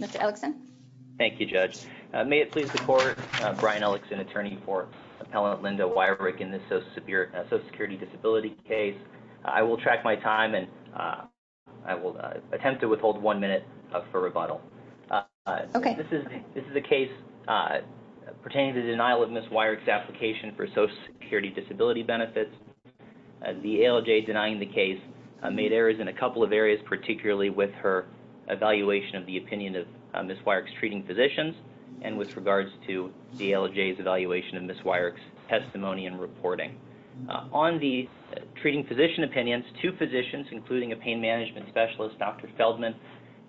Mr. Ellickson. Thank you, Judge. May it please the Court, Brian Ellickson, attorney for Appellant Linda Weirick in this Social Security Disability case. I will track my time and I will attempt to withhold one minute for rebuttal. This is a case pertaining to the denial of Ms. Weirick's application for Social Security Disability benefits. The ALJ denying the case made errors in a couple of areas, particularly with her evaluation of the opinion of Ms. Weirick's treating physicians and with regards to the ALJ's evaluation of Ms. Weirick's testimony and reporting. On the treating physician opinions, two physicians, including a pain management specialist, Dr. Feldman,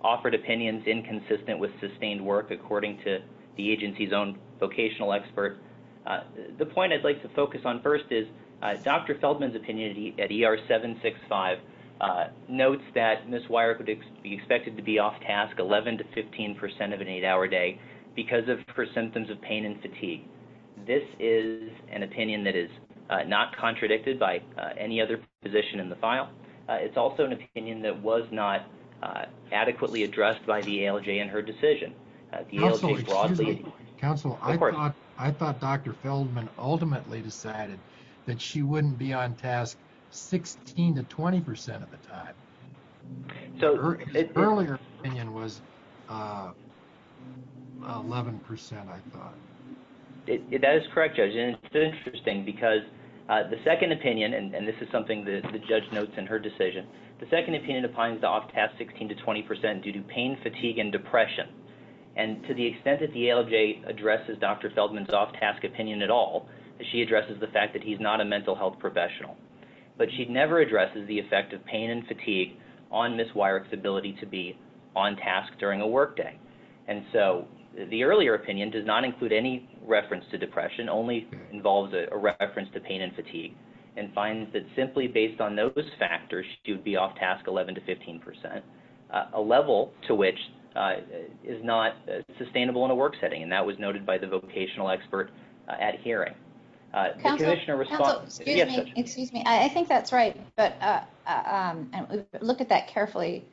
offered opinions inconsistent with sustained work, according to the agency's own vocational expert. The point I'd like to focus on first is Dr. Feldman, on page 765, notes that Ms. Weirick would be expected to be off-task 11 to 15 percent of an eight-hour day because of her symptoms of pain and fatigue. This is an opinion that is not contradicted by any other position in the file. It's also an opinion that was not adequately addressed by the ALJ in her decision. The ALJ's broad leading... 16 to 20 percent of the time. Her earlier opinion was 11 percent, I thought. That is correct, Judge. It's interesting because the second opinion, and this is something that the judge notes in her decision, the second opinion defines the off-task 16 to 20 percent due to pain, fatigue, and depression. To the extent that the ALJ addresses Dr. Feldman's off-task opinion at all, she addresses the fact that he's not a mental health professional. But she never addresses the effect of pain and fatigue on Ms. Weirick's ability to be on-task during a workday. The earlier opinion does not include any reference to depression, only involves a reference to pain and fatigue, and finds that simply based on those factors, she would be off-task 11 to 15 percent, a level to which is not sustainable in a work setting. That was noted by the vocational expert at hearing. Counsel, excuse me. I think that's right. Look at that carefully.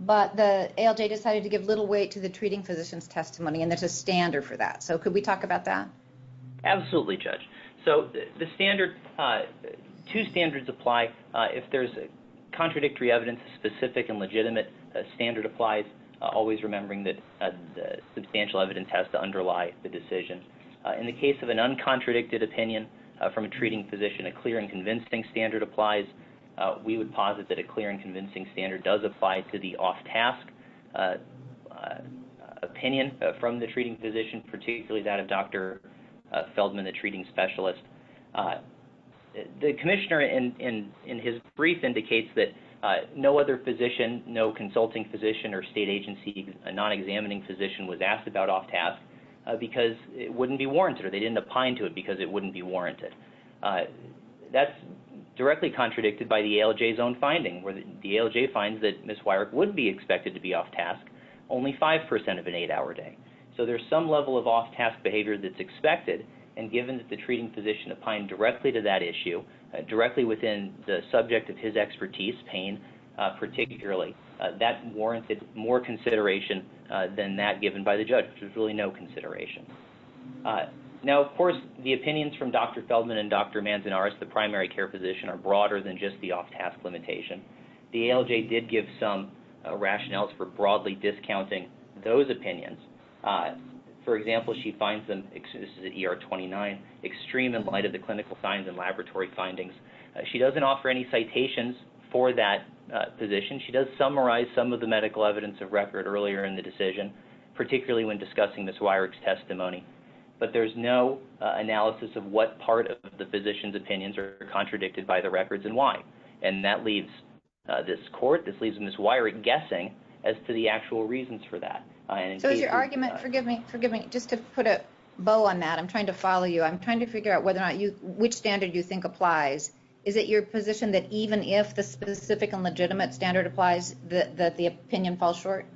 But the ALJ decided to give little weight to the treating physician's testimony, and there's a standard for that. Could we talk about that? Absolutely, Judge. Two standards apply. If there's contradictory evidence, a specific and legitimate standard applies, always remembering that substantial evidence has to underlie the decision. In the case of an uncontradicted opinion from a treating physician, a clear and convincing standard applies. We would posit that a clear and convincing standard does apply to the off-task opinion from the treating physician, particularly that of Dr. Feldman, the treating specialist. The commissioner, in his brief, indicates that no other physician, no consulting physician or state agency, a non-examining physician was asked about off-task because it wouldn't be warranted, or they didn't opine to it because it wouldn't be warranted. That's directly contradicted by the ALJ's own finding, where the ALJ finds that Ms. Weirich would be expected to be off-task only 5 percent of an eight-hour day. So there's some level of off-task behavior that's expected, and given that the treating physician opined directly to that issue, directly within the subject of his expertise, pain particularly, that warranted more consideration than that given by the judge, which was really no consideration. Now, of course, the opinions from Dr. Feldman and Dr. Manzanares, the primary care physician, are broader than just the off-task limitation. The ALJ did give some rationales for broadly discounting those opinions. For example, she finds them, this is at ER 29, extreme in light of the clinical signs and laboratory findings. She doesn't offer any citations for that physician. She does summarize some of the medical evidence of record earlier in the decision, particularly when discussing Ms. Weirich's testimony. But there's no analysis of what part of the physician's opinions are contradicted by the records and why. And that leaves this court, this leaves Ms. Weirich guessing as to the actual reasons for that. So is your argument, forgive me, just to put a bow on that, I'm trying to follow you. I'm trying to figure out whether or not which standard you think applies. Is it your position that even if the specific and legitimate standard applies, that the opinion falls short?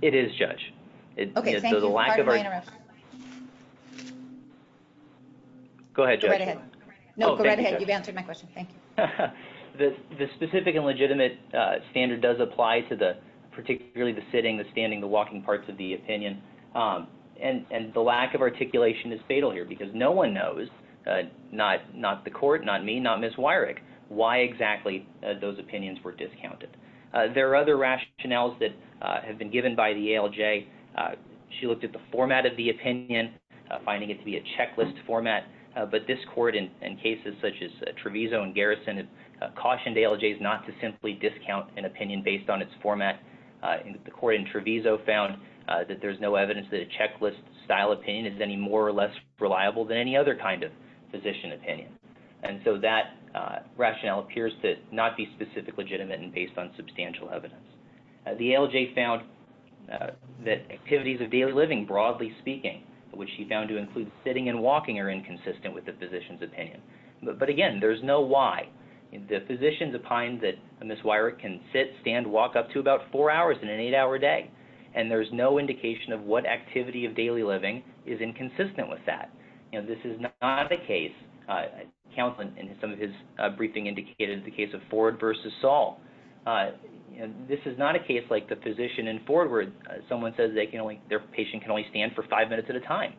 It is, Judge. Okay, thank you. Go ahead, Judge. Go right ahead. No, go right ahead. You've answered my question. Thank you. The specific and legitimate standard does apply to particularly the sitting, the standing, the walking parts of the opinion. And the lack of articulation is fatal here because no one knows, not the court, not me, not Ms. Weirich, why exactly those opinions were discounted. There are other rationales that have been given by the ALJ. She looked at the format of the opinion, finding it to be a checklist format. But this court in cases such as Treviso and Garrison cautioned ALJs not to simply discount an opinion based on its format. The court in Treviso found that there's no evidence that a checklist style opinion is any more or less reliable than any other kind of physician opinion. And so that rationale appears to not be specific, legitimate, and based on substantial evidence. The ALJ found that activities of daily living, broadly speaking, which she found to include sitting and walking are inconsistent with the physician's opinion. But again, there's no why. The physicians opined that Ms. Weirich can sit, stand, walk up to about four hours in an eight-hour day. And there's no indication of what activity of daily living is inconsistent with that. You know, this is not a case. Counsel in some of his briefing indicated the case of Ford v. Saul. This is not a case like the physician in Ford where someone says their patient can only stand for five minutes at a time.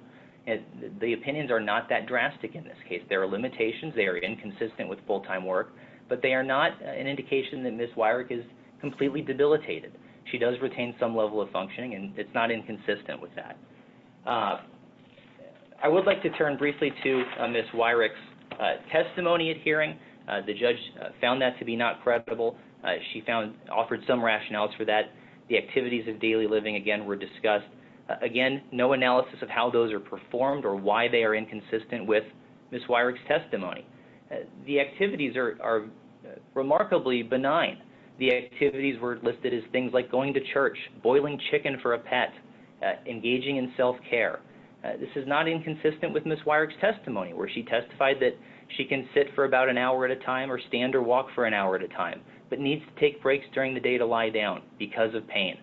The opinions are not that drastic in this case. There are limitations. They are inconsistent with full-time work. But they are not an indication that Ms. Weirich is completely debilitated. She does retain some level of functioning. And it's not inconsistent with that. I would like to turn briefly to Ms. Weirich's testimony at hearing. The judge found that to be not credible. She found, offered some rationales for that. The activities of daily living, again, were discussed. Again, no analysis of how those are performed or why they are inconsistent with Ms. Weirich's testimony. The activities are remarkably benign. The activities were listed as things like going to church, boiling chicken for a pet, engaging in self-care. This is not inconsistent with Ms. Weirich's testimony where she testified that she can sit for about an hour at a time or stand or walk for an hour at a time but needs to take breaks during the day to lie down because of pain.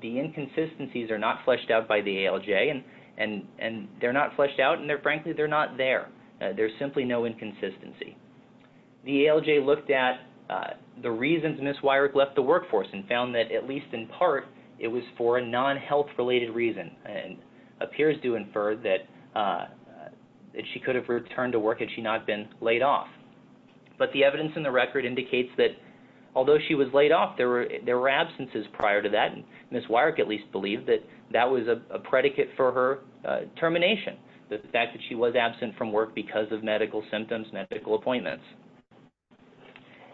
The inconsistencies are not fleshed out by the ALJ. And they're not fleshed out. There's simply no inconsistency. The ALJ looked at the reasons Ms. Weirich left the workforce and found that at least in part it was for a non-health-related reason and appears to infer that she could have returned to work had she not been laid off. But the evidence in the record indicates that although she was laid off, there were absences prior to that. Ms. Weirich believed that was a predicate for her termination, that she was absent from work because of medical symptoms, medical appointments.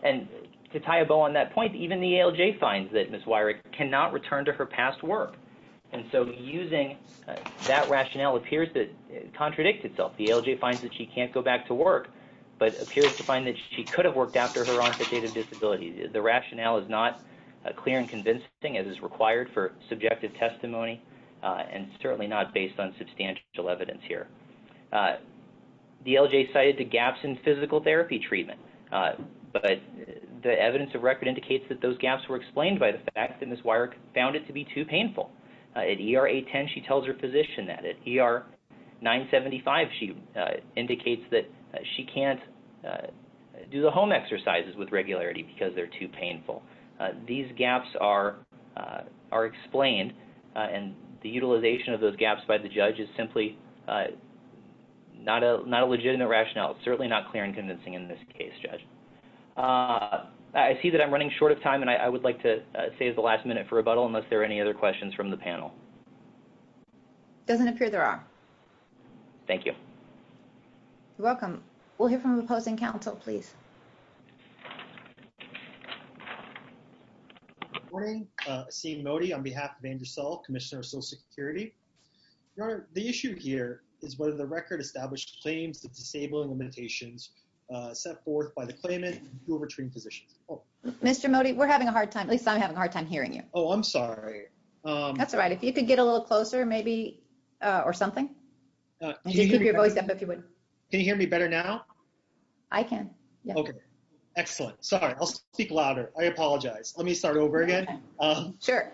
And to tie a bow on that point, even the ALJ finds that Ms. Weirich cannot return to her past work. And so using that rationale appears to contradict itself. The ALJ finds that she can't go back to work but appears to find that she could have worked after her testimony and certainly not based on substantial evidence here. The ALJ cited the gaps in physical therapy treatment. But the evidence of record indicates that those gaps were explained by the fact that Ms. Weirich found it to be too painful. At ER 810, she tells her physician that. At ER 975, she indicates that she can't do the home exercises with regularity because they're too and the utilization of those gaps by the judge is simply not a legitimate rationale. It's certainly not clear and convincing in this case, Judge. I see that I'm running short of time and I would like to save the last minute for rebuttal unless there are any other questions from the panel. It doesn't appear there are. Thank you. You're welcome. We'll hear from the opposing counsel, please. Good morning. Asim Modi on behalf of Andrew Sell, Commissioner of Social Security. Your Honor, the issue here is whether the record established claims of disabling limitations set forth by the claimant to overtrain physicians. Mr. Modi, we're having a hard time. At least I'm having a hard time hearing you. Oh, I'm sorry. That's all right. If you could get a little closer maybe or something. And just keep your voice up if you would. Can you hear me better now? I can. Okay. Excellent. Sorry. I'll speak louder. I apologize. Let me start over again. Sure.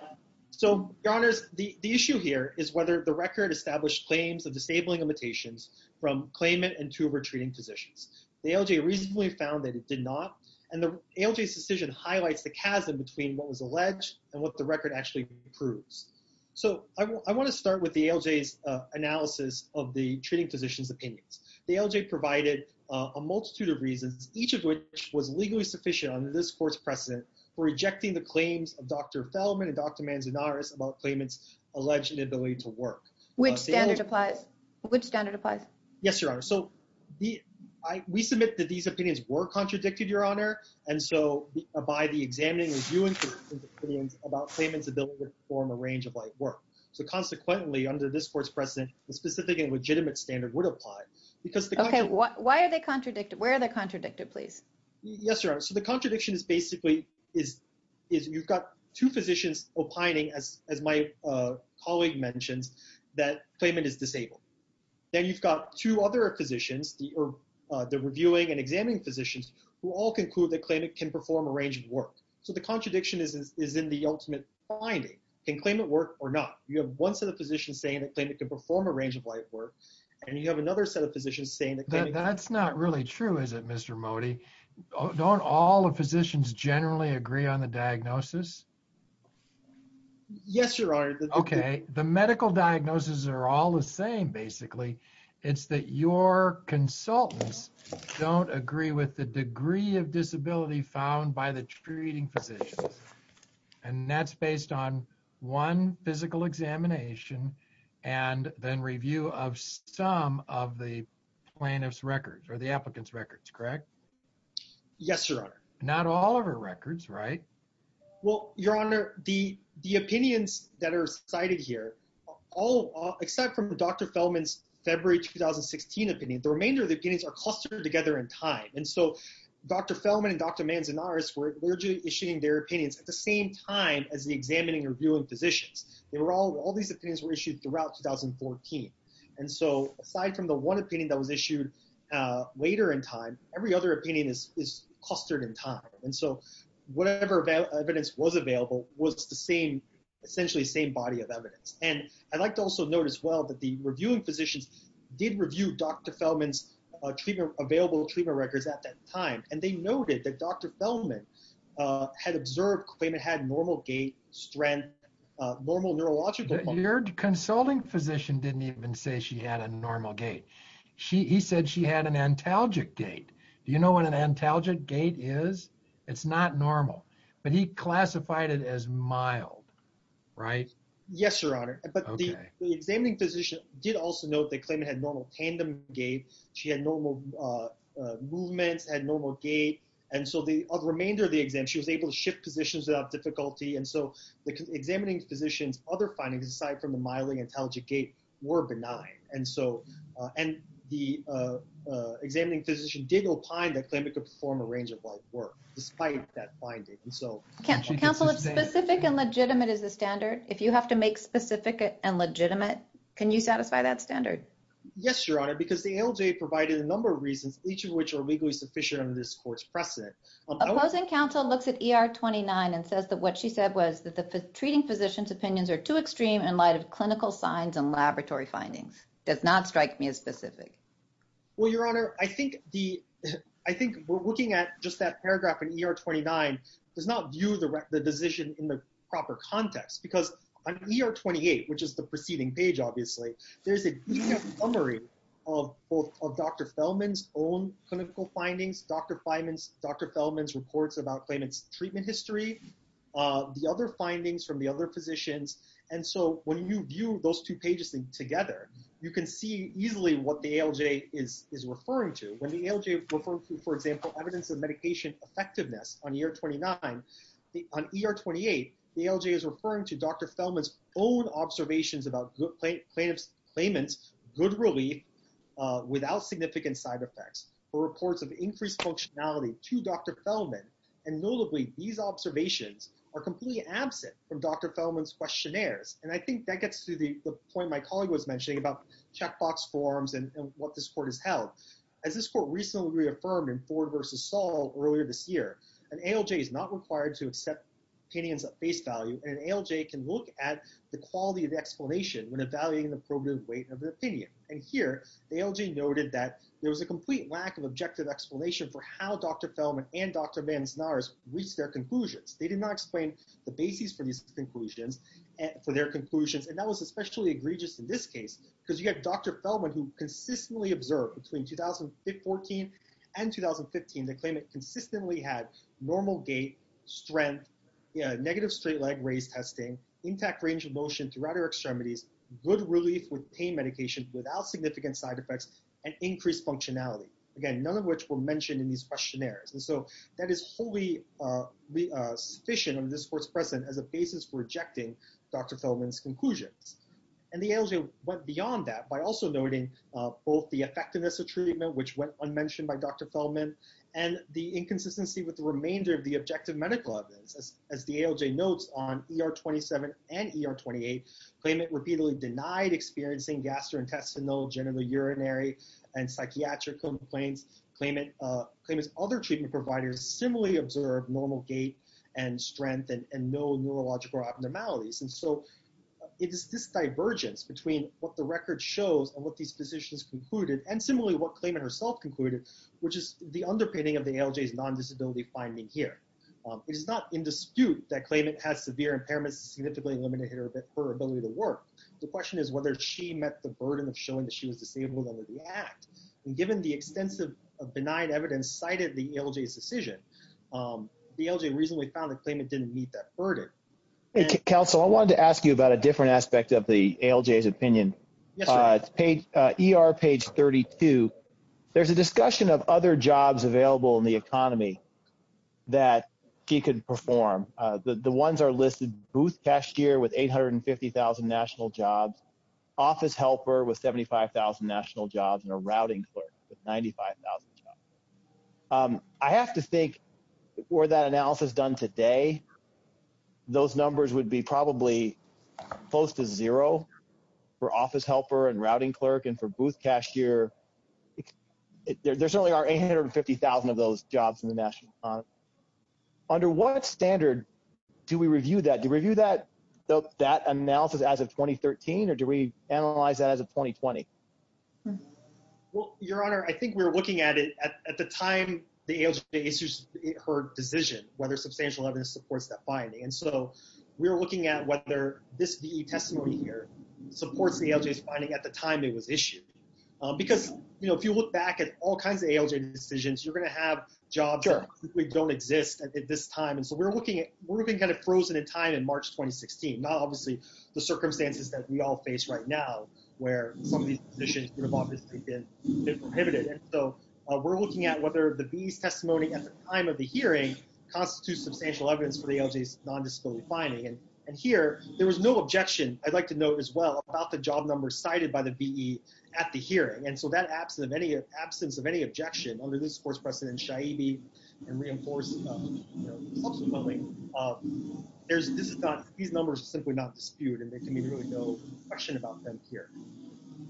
So, Your Honor, the issue here is whether the record established claims of disabling limitations from claimant and to overtraining positions. The ALJ recently found that it did not and the ALJ's decision highlights the chasm between what was alleged and what the record actually proves. So, I want to start with the ALJ's analysis of the treating physician's opinions. The ALJ provided a multitude of reasons, each of which was legally sufficient under this court's precedent for rejecting the claims of Dr. Feldman and Dr. Manzanares about claimant's alleged inability to work. Which standard applies? Which standard applies? Yes, Your Honor. So, we submit that these opinions were contradicted, Your Honor, and so by the examining of viewings about claimant's ability to perform a range of life work. So, consequently, under this court's precedent, the specific and legitimate standard would apply. Okay. Why are they contradicted? Where are they contradicted, please? Yes, Your Honor. So, the contradiction is basically you've got two physicians opining, as my colleague mentioned, that claimant is disabled. Then you've got two other physicians, the reviewing and examining physicians, who all conclude that claimant can perform a range of work. So, the contradiction is in the ultimate finding. Can claimant work or not? You have one physician saying that claimant can perform a range of life work, and you have another set of physicians saying that claimant can't. That's not really true, is it, Mr. Mody? Don't all the physicians generally agree on the diagnosis? Yes, Your Honor. Okay. The medical diagnoses are all the same, basically. It's that your consultants don't agree with the degree of disability found by the treating physicians, and that's based on one physical examination and then review of some of the plaintiff's records or the applicant's records, correct? Yes, Your Honor. Not all of her records, right? Well, Your Honor, the opinions that are cited here, except from Dr. Fellman's February 2016 opinion, the remainder of the opinions are clustered together in time. And so, Dr. Fellman and Dr. Manzanares were literally issuing their opinions at the same time as the examining and reviewing physicians. All these opinions were issued throughout 2014. And so, aside from the one opinion that was issued later in time, every other opinion is clustered in time. And so, whatever evidence was available was essentially the same body of evidence. And I'd like to also note as well that the reviewing physicians did Dr. Fellman's available treatment records at that time. And they noted that Dr. Fellman had observed, claimed it had normal gait, strength, normal neurological... Your consulting physician didn't even say she had a normal gait. He said she had an antalgic gait. Do you know what an antalgic gait is? It's not normal, but he classified it as mild, right? Yes, Your Honor. Okay. But the examining did also note that claiming it had normal tandem gait. She had normal movements, had normal gait. And so, the remainder of the exam, she was able to shift positions without difficulty. And so, the examining physician's other findings, aside from the mildly antalgic gait, were benign. And the examining physician did opine that claiming it could perform a range of light work, despite that finding. And so- Counsel, if specific and legitimate is the standard, if you have to make specific and legitimate, can you satisfy that standard? Yes, Your Honor, because the ALJ provided a number of reasons, each of which are legally sufficient under this court's precedent. Opposing counsel looks at ER 29 and says that what she said was that the treating physician's opinions are too extreme in light of clinical signs and laboratory findings. Does not strike me as specific. Well, Your Honor, I think we're looking at just that paragraph in ER 29 does not view the decision in the proper context. Because on ER 28, which is the preceding page, obviously, there's a summary of both of Dr. Feldman's own clinical findings, Dr. Feldman's reports about claimant's treatment history, the other findings from the other physicians. And so, when you view those two pages together, you can see easily what the ALJ is referring to. When the ALJ, for example, evidence of medication effectiveness on ER 29, on ER 28, the ALJ is referring to Dr. Feldman's own observations about plaintiff's claimant's good relief without significant side effects or reports of increased functionality to Dr. Feldman. And notably, these observations are completely absent from Dr. Feldman's questionnaires. And I think that gets to the point my colleague was mentioning about checkbox forms and what this court has held. As this court recently reaffirmed in Ford v. Saul earlier this year, an ALJ is not required to accept opinions at face value, and an ALJ can look at the quality of the explanation when evaluating the probative weight of the opinion. And here, the ALJ noted that there was a complete lack of objective explanation for how Dr. Feldman and Dr. Manzanares reached their conclusions. They did not explain the basis for these conclusions, for their conclusions, and that was especially egregious in this case, because you have Dr. Feldman who consistently observed between 2014 and 2015 the claimant consistently had normal gait, strength, negative straight leg raised testing, intact range of motion throughout her extremities, good relief with pain medication without significant side effects, and increased functionality. Again, none of which were mentioned in these questionnaires. And so that is wholly sufficient of this court's precedent as a basis for rejecting Dr. Feldman's conclusions. And the ALJ went beyond that by also noting both the effectiveness of treatment, which went unmentioned by Dr. Feldman, and the inconsistency with the remainder of the objective medical evidence. As the ALJ notes on ER27 and ER28, claimant repeatedly denied experiencing gastrointestinal, general urinary, and psychiatric complaints. Claimant's other treatment providers similarly observed normal gait and strength and no neurological abnormalities. And so it is this divergence between what the record shows and what these physicians concluded, and similarly what claimant herself concluded, which is the underpinning of the ALJ's non-disability finding here. It is not in dispute that claimant has severe impairments significantly limited her ability to work. The question is whether she met the burden of showing that she was disabled under the act. And given the extensive benign evidence cited the ALJ's decision, the ALJ reasonably found the claimant didn't meet that burden. ER page 32, there's a discussion of other jobs available in the economy that she could perform. The ones are listed, booth cashier with 850,000 national jobs, office helper with 75,000 national jobs, and a routing clerk with 95,000 jobs. I have to think were that analysis done today, those numbers would be probably close to zero for office helper and routing clerk and for booth cashier. There certainly are 850,000 of those jobs in the national economy. Under what standard do we review that? Do we review that analysis as of 2013 or do we analyze that as of 2020? Well, Your Honor, I think we're looking at it at the time the ALJ issues her decision, whether substantial evidence supports that finding. And so we're looking at whether this VE testimony here supports the ALJ's finding at the time it was issued. Because, you know, if you look back at all kinds of ALJ decisions, you're going to have jobs that typically don't exist at this time. And so we're looking at, we're looking kind of frozen in time in March, 2016, not obviously the circumstances that we all face right now, where some of these positions would have obviously been prohibited. And so we're looking at whether the VE's testimony at the time of the hearing constitutes substantial evidence for the ALJ's non-disability finding. And here, there was no objection, I'd like to note as well, about the job number cited by the VE at the hearing. And so that absence of any objection under this Court's precedent, Shaibi, and reinforced subsequently, these numbers simply do not dispute, and there can be really no question about them here.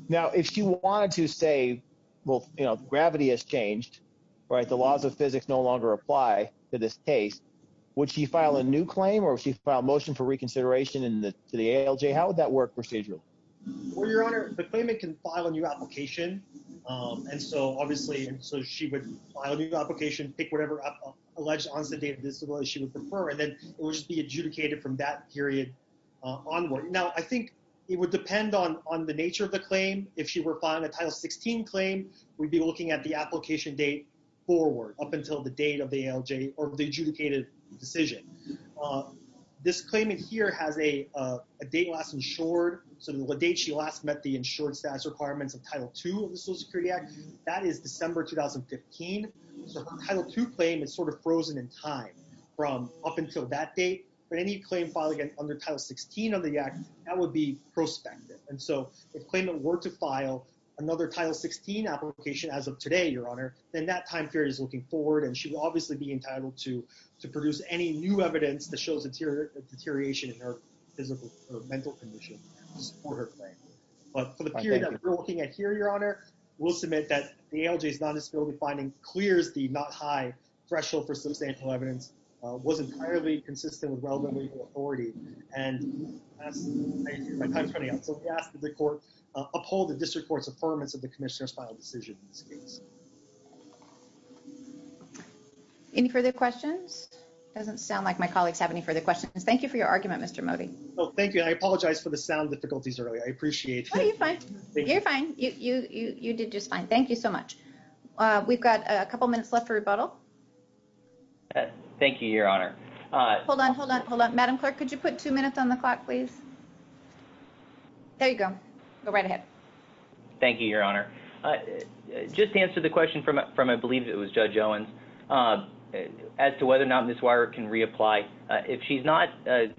Now, if she wanted to say, well, you know, gravity has changed, right? The laws of physics no longer apply to this case, would she file a new claim or she file motion for reconsideration in the ALJ? How would that work procedurally? Well, Your Honor, the claimant can file a new application. And so obviously, so she would file a new application, pick whatever alleged disability she would prefer, and then it would just be adjudicated from that period onward. Now, I think it would depend on the nature of the claim. If she were filing a Title 16 claim, we'd be looking at the application date forward, up until the date of the ALJ or the adjudicated decision. This claimant here has a date last insured, sort of the date she last met the insured status requirements of Title II of the Social Security Act. That is December 2015. So Title II claim is sort of frozen in time from up until that date, but any claim filed again under Title 16 of the Act, that would be prospective. And so if claimant were to file another Title 16 application as of today, Your Honor, then that time period is looking forward, and she would obviously be entitled to produce any new evidence that shows deterioration in her physical or mental condition to support her claim. But for the period that we're looking at here, we'll submit that the ALJ's non-disability finding clears the not-high threshold for substantial evidence, was entirely consistent with relevant legal authority, and my time's running out. So we ask that the Court uphold the District Court's affirmance of the Commissioner's final decision in this case. Any further questions? It doesn't sound like my colleagues have any further questions. Thank you for your argument, Mr. Modi. Oh, thank you. I apologize for the delay. You did just fine. Thank you so much. We've got a couple minutes left for rebuttal. Thank you, Your Honor. Hold on, hold on, hold on. Madam Clerk, could you put two minutes on the clock, please? There you go. Go right ahead. Thank you, Your Honor. Just to answer the question from I believe it was Judge Owens, as to whether or not Ms. Weirich can reapply, if she's not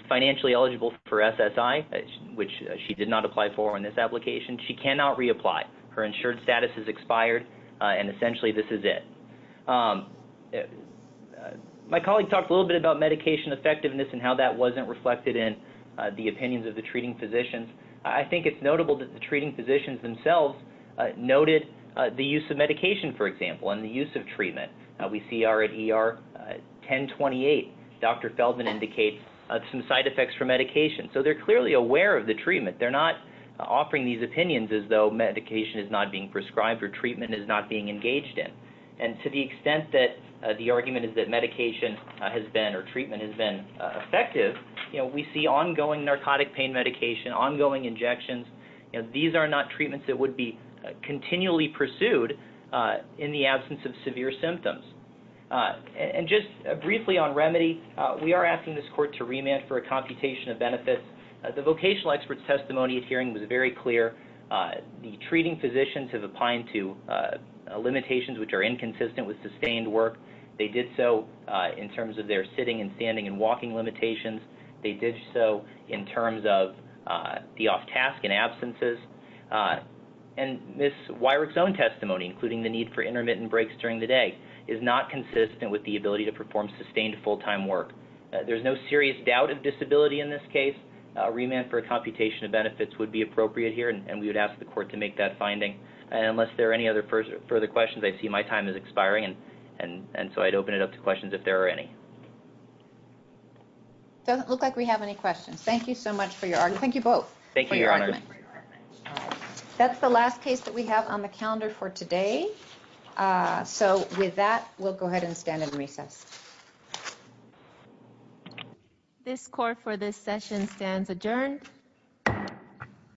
financially eligible for SSI, which she did not apply for in this application, she cannot reapply. Her insured status has expired, and essentially this is it. My colleague talked a little bit about medication effectiveness and how that wasn't reflected in the opinions of the treating physicians. I think it's notable that the treating physicians themselves noted the use of medication, for example, and the use of treatment. We see already, ER 1028, Dr. Feldman indicates some side effects from medication. So they're clearly aware of the treatment. They're not offering these prescribed or treatment is not being engaged in. And to the extent that the argument is that medication has been or treatment has been effective, we see ongoing narcotic pain medication, ongoing injections. These are not treatments that would be continually pursued in the absence of severe symptoms. And just briefly on remedy, we are asking this court to remand for a computation of benefits. The vocational expert's testimony at hearing was very clear. The treating physicians have applied to limitations which are inconsistent with sustained work. They did so in terms of their sitting and standing and walking limitations. They did so in terms of the off-task and absences. And Ms. Weirich's own testimony, including the need for intermittent breaks during the day, is not consistent with the ability to perform sustained full-time work. There's no serious doubt of disability in this case. A remand for a computation of benefits would be appropriate here, and we would ask the court to make that finding. And unless there are any other further questions, I see my time is expiring. And so I'd open it up to questions if there are any. Doesn't look like we have any questions. Thank you so much for your argument. Thank you both. Thank you, Your Honor. That's the last case that we have on the calendar for today. So with that, we'll go ahead and stand and recess. This court for this session stands adjourned.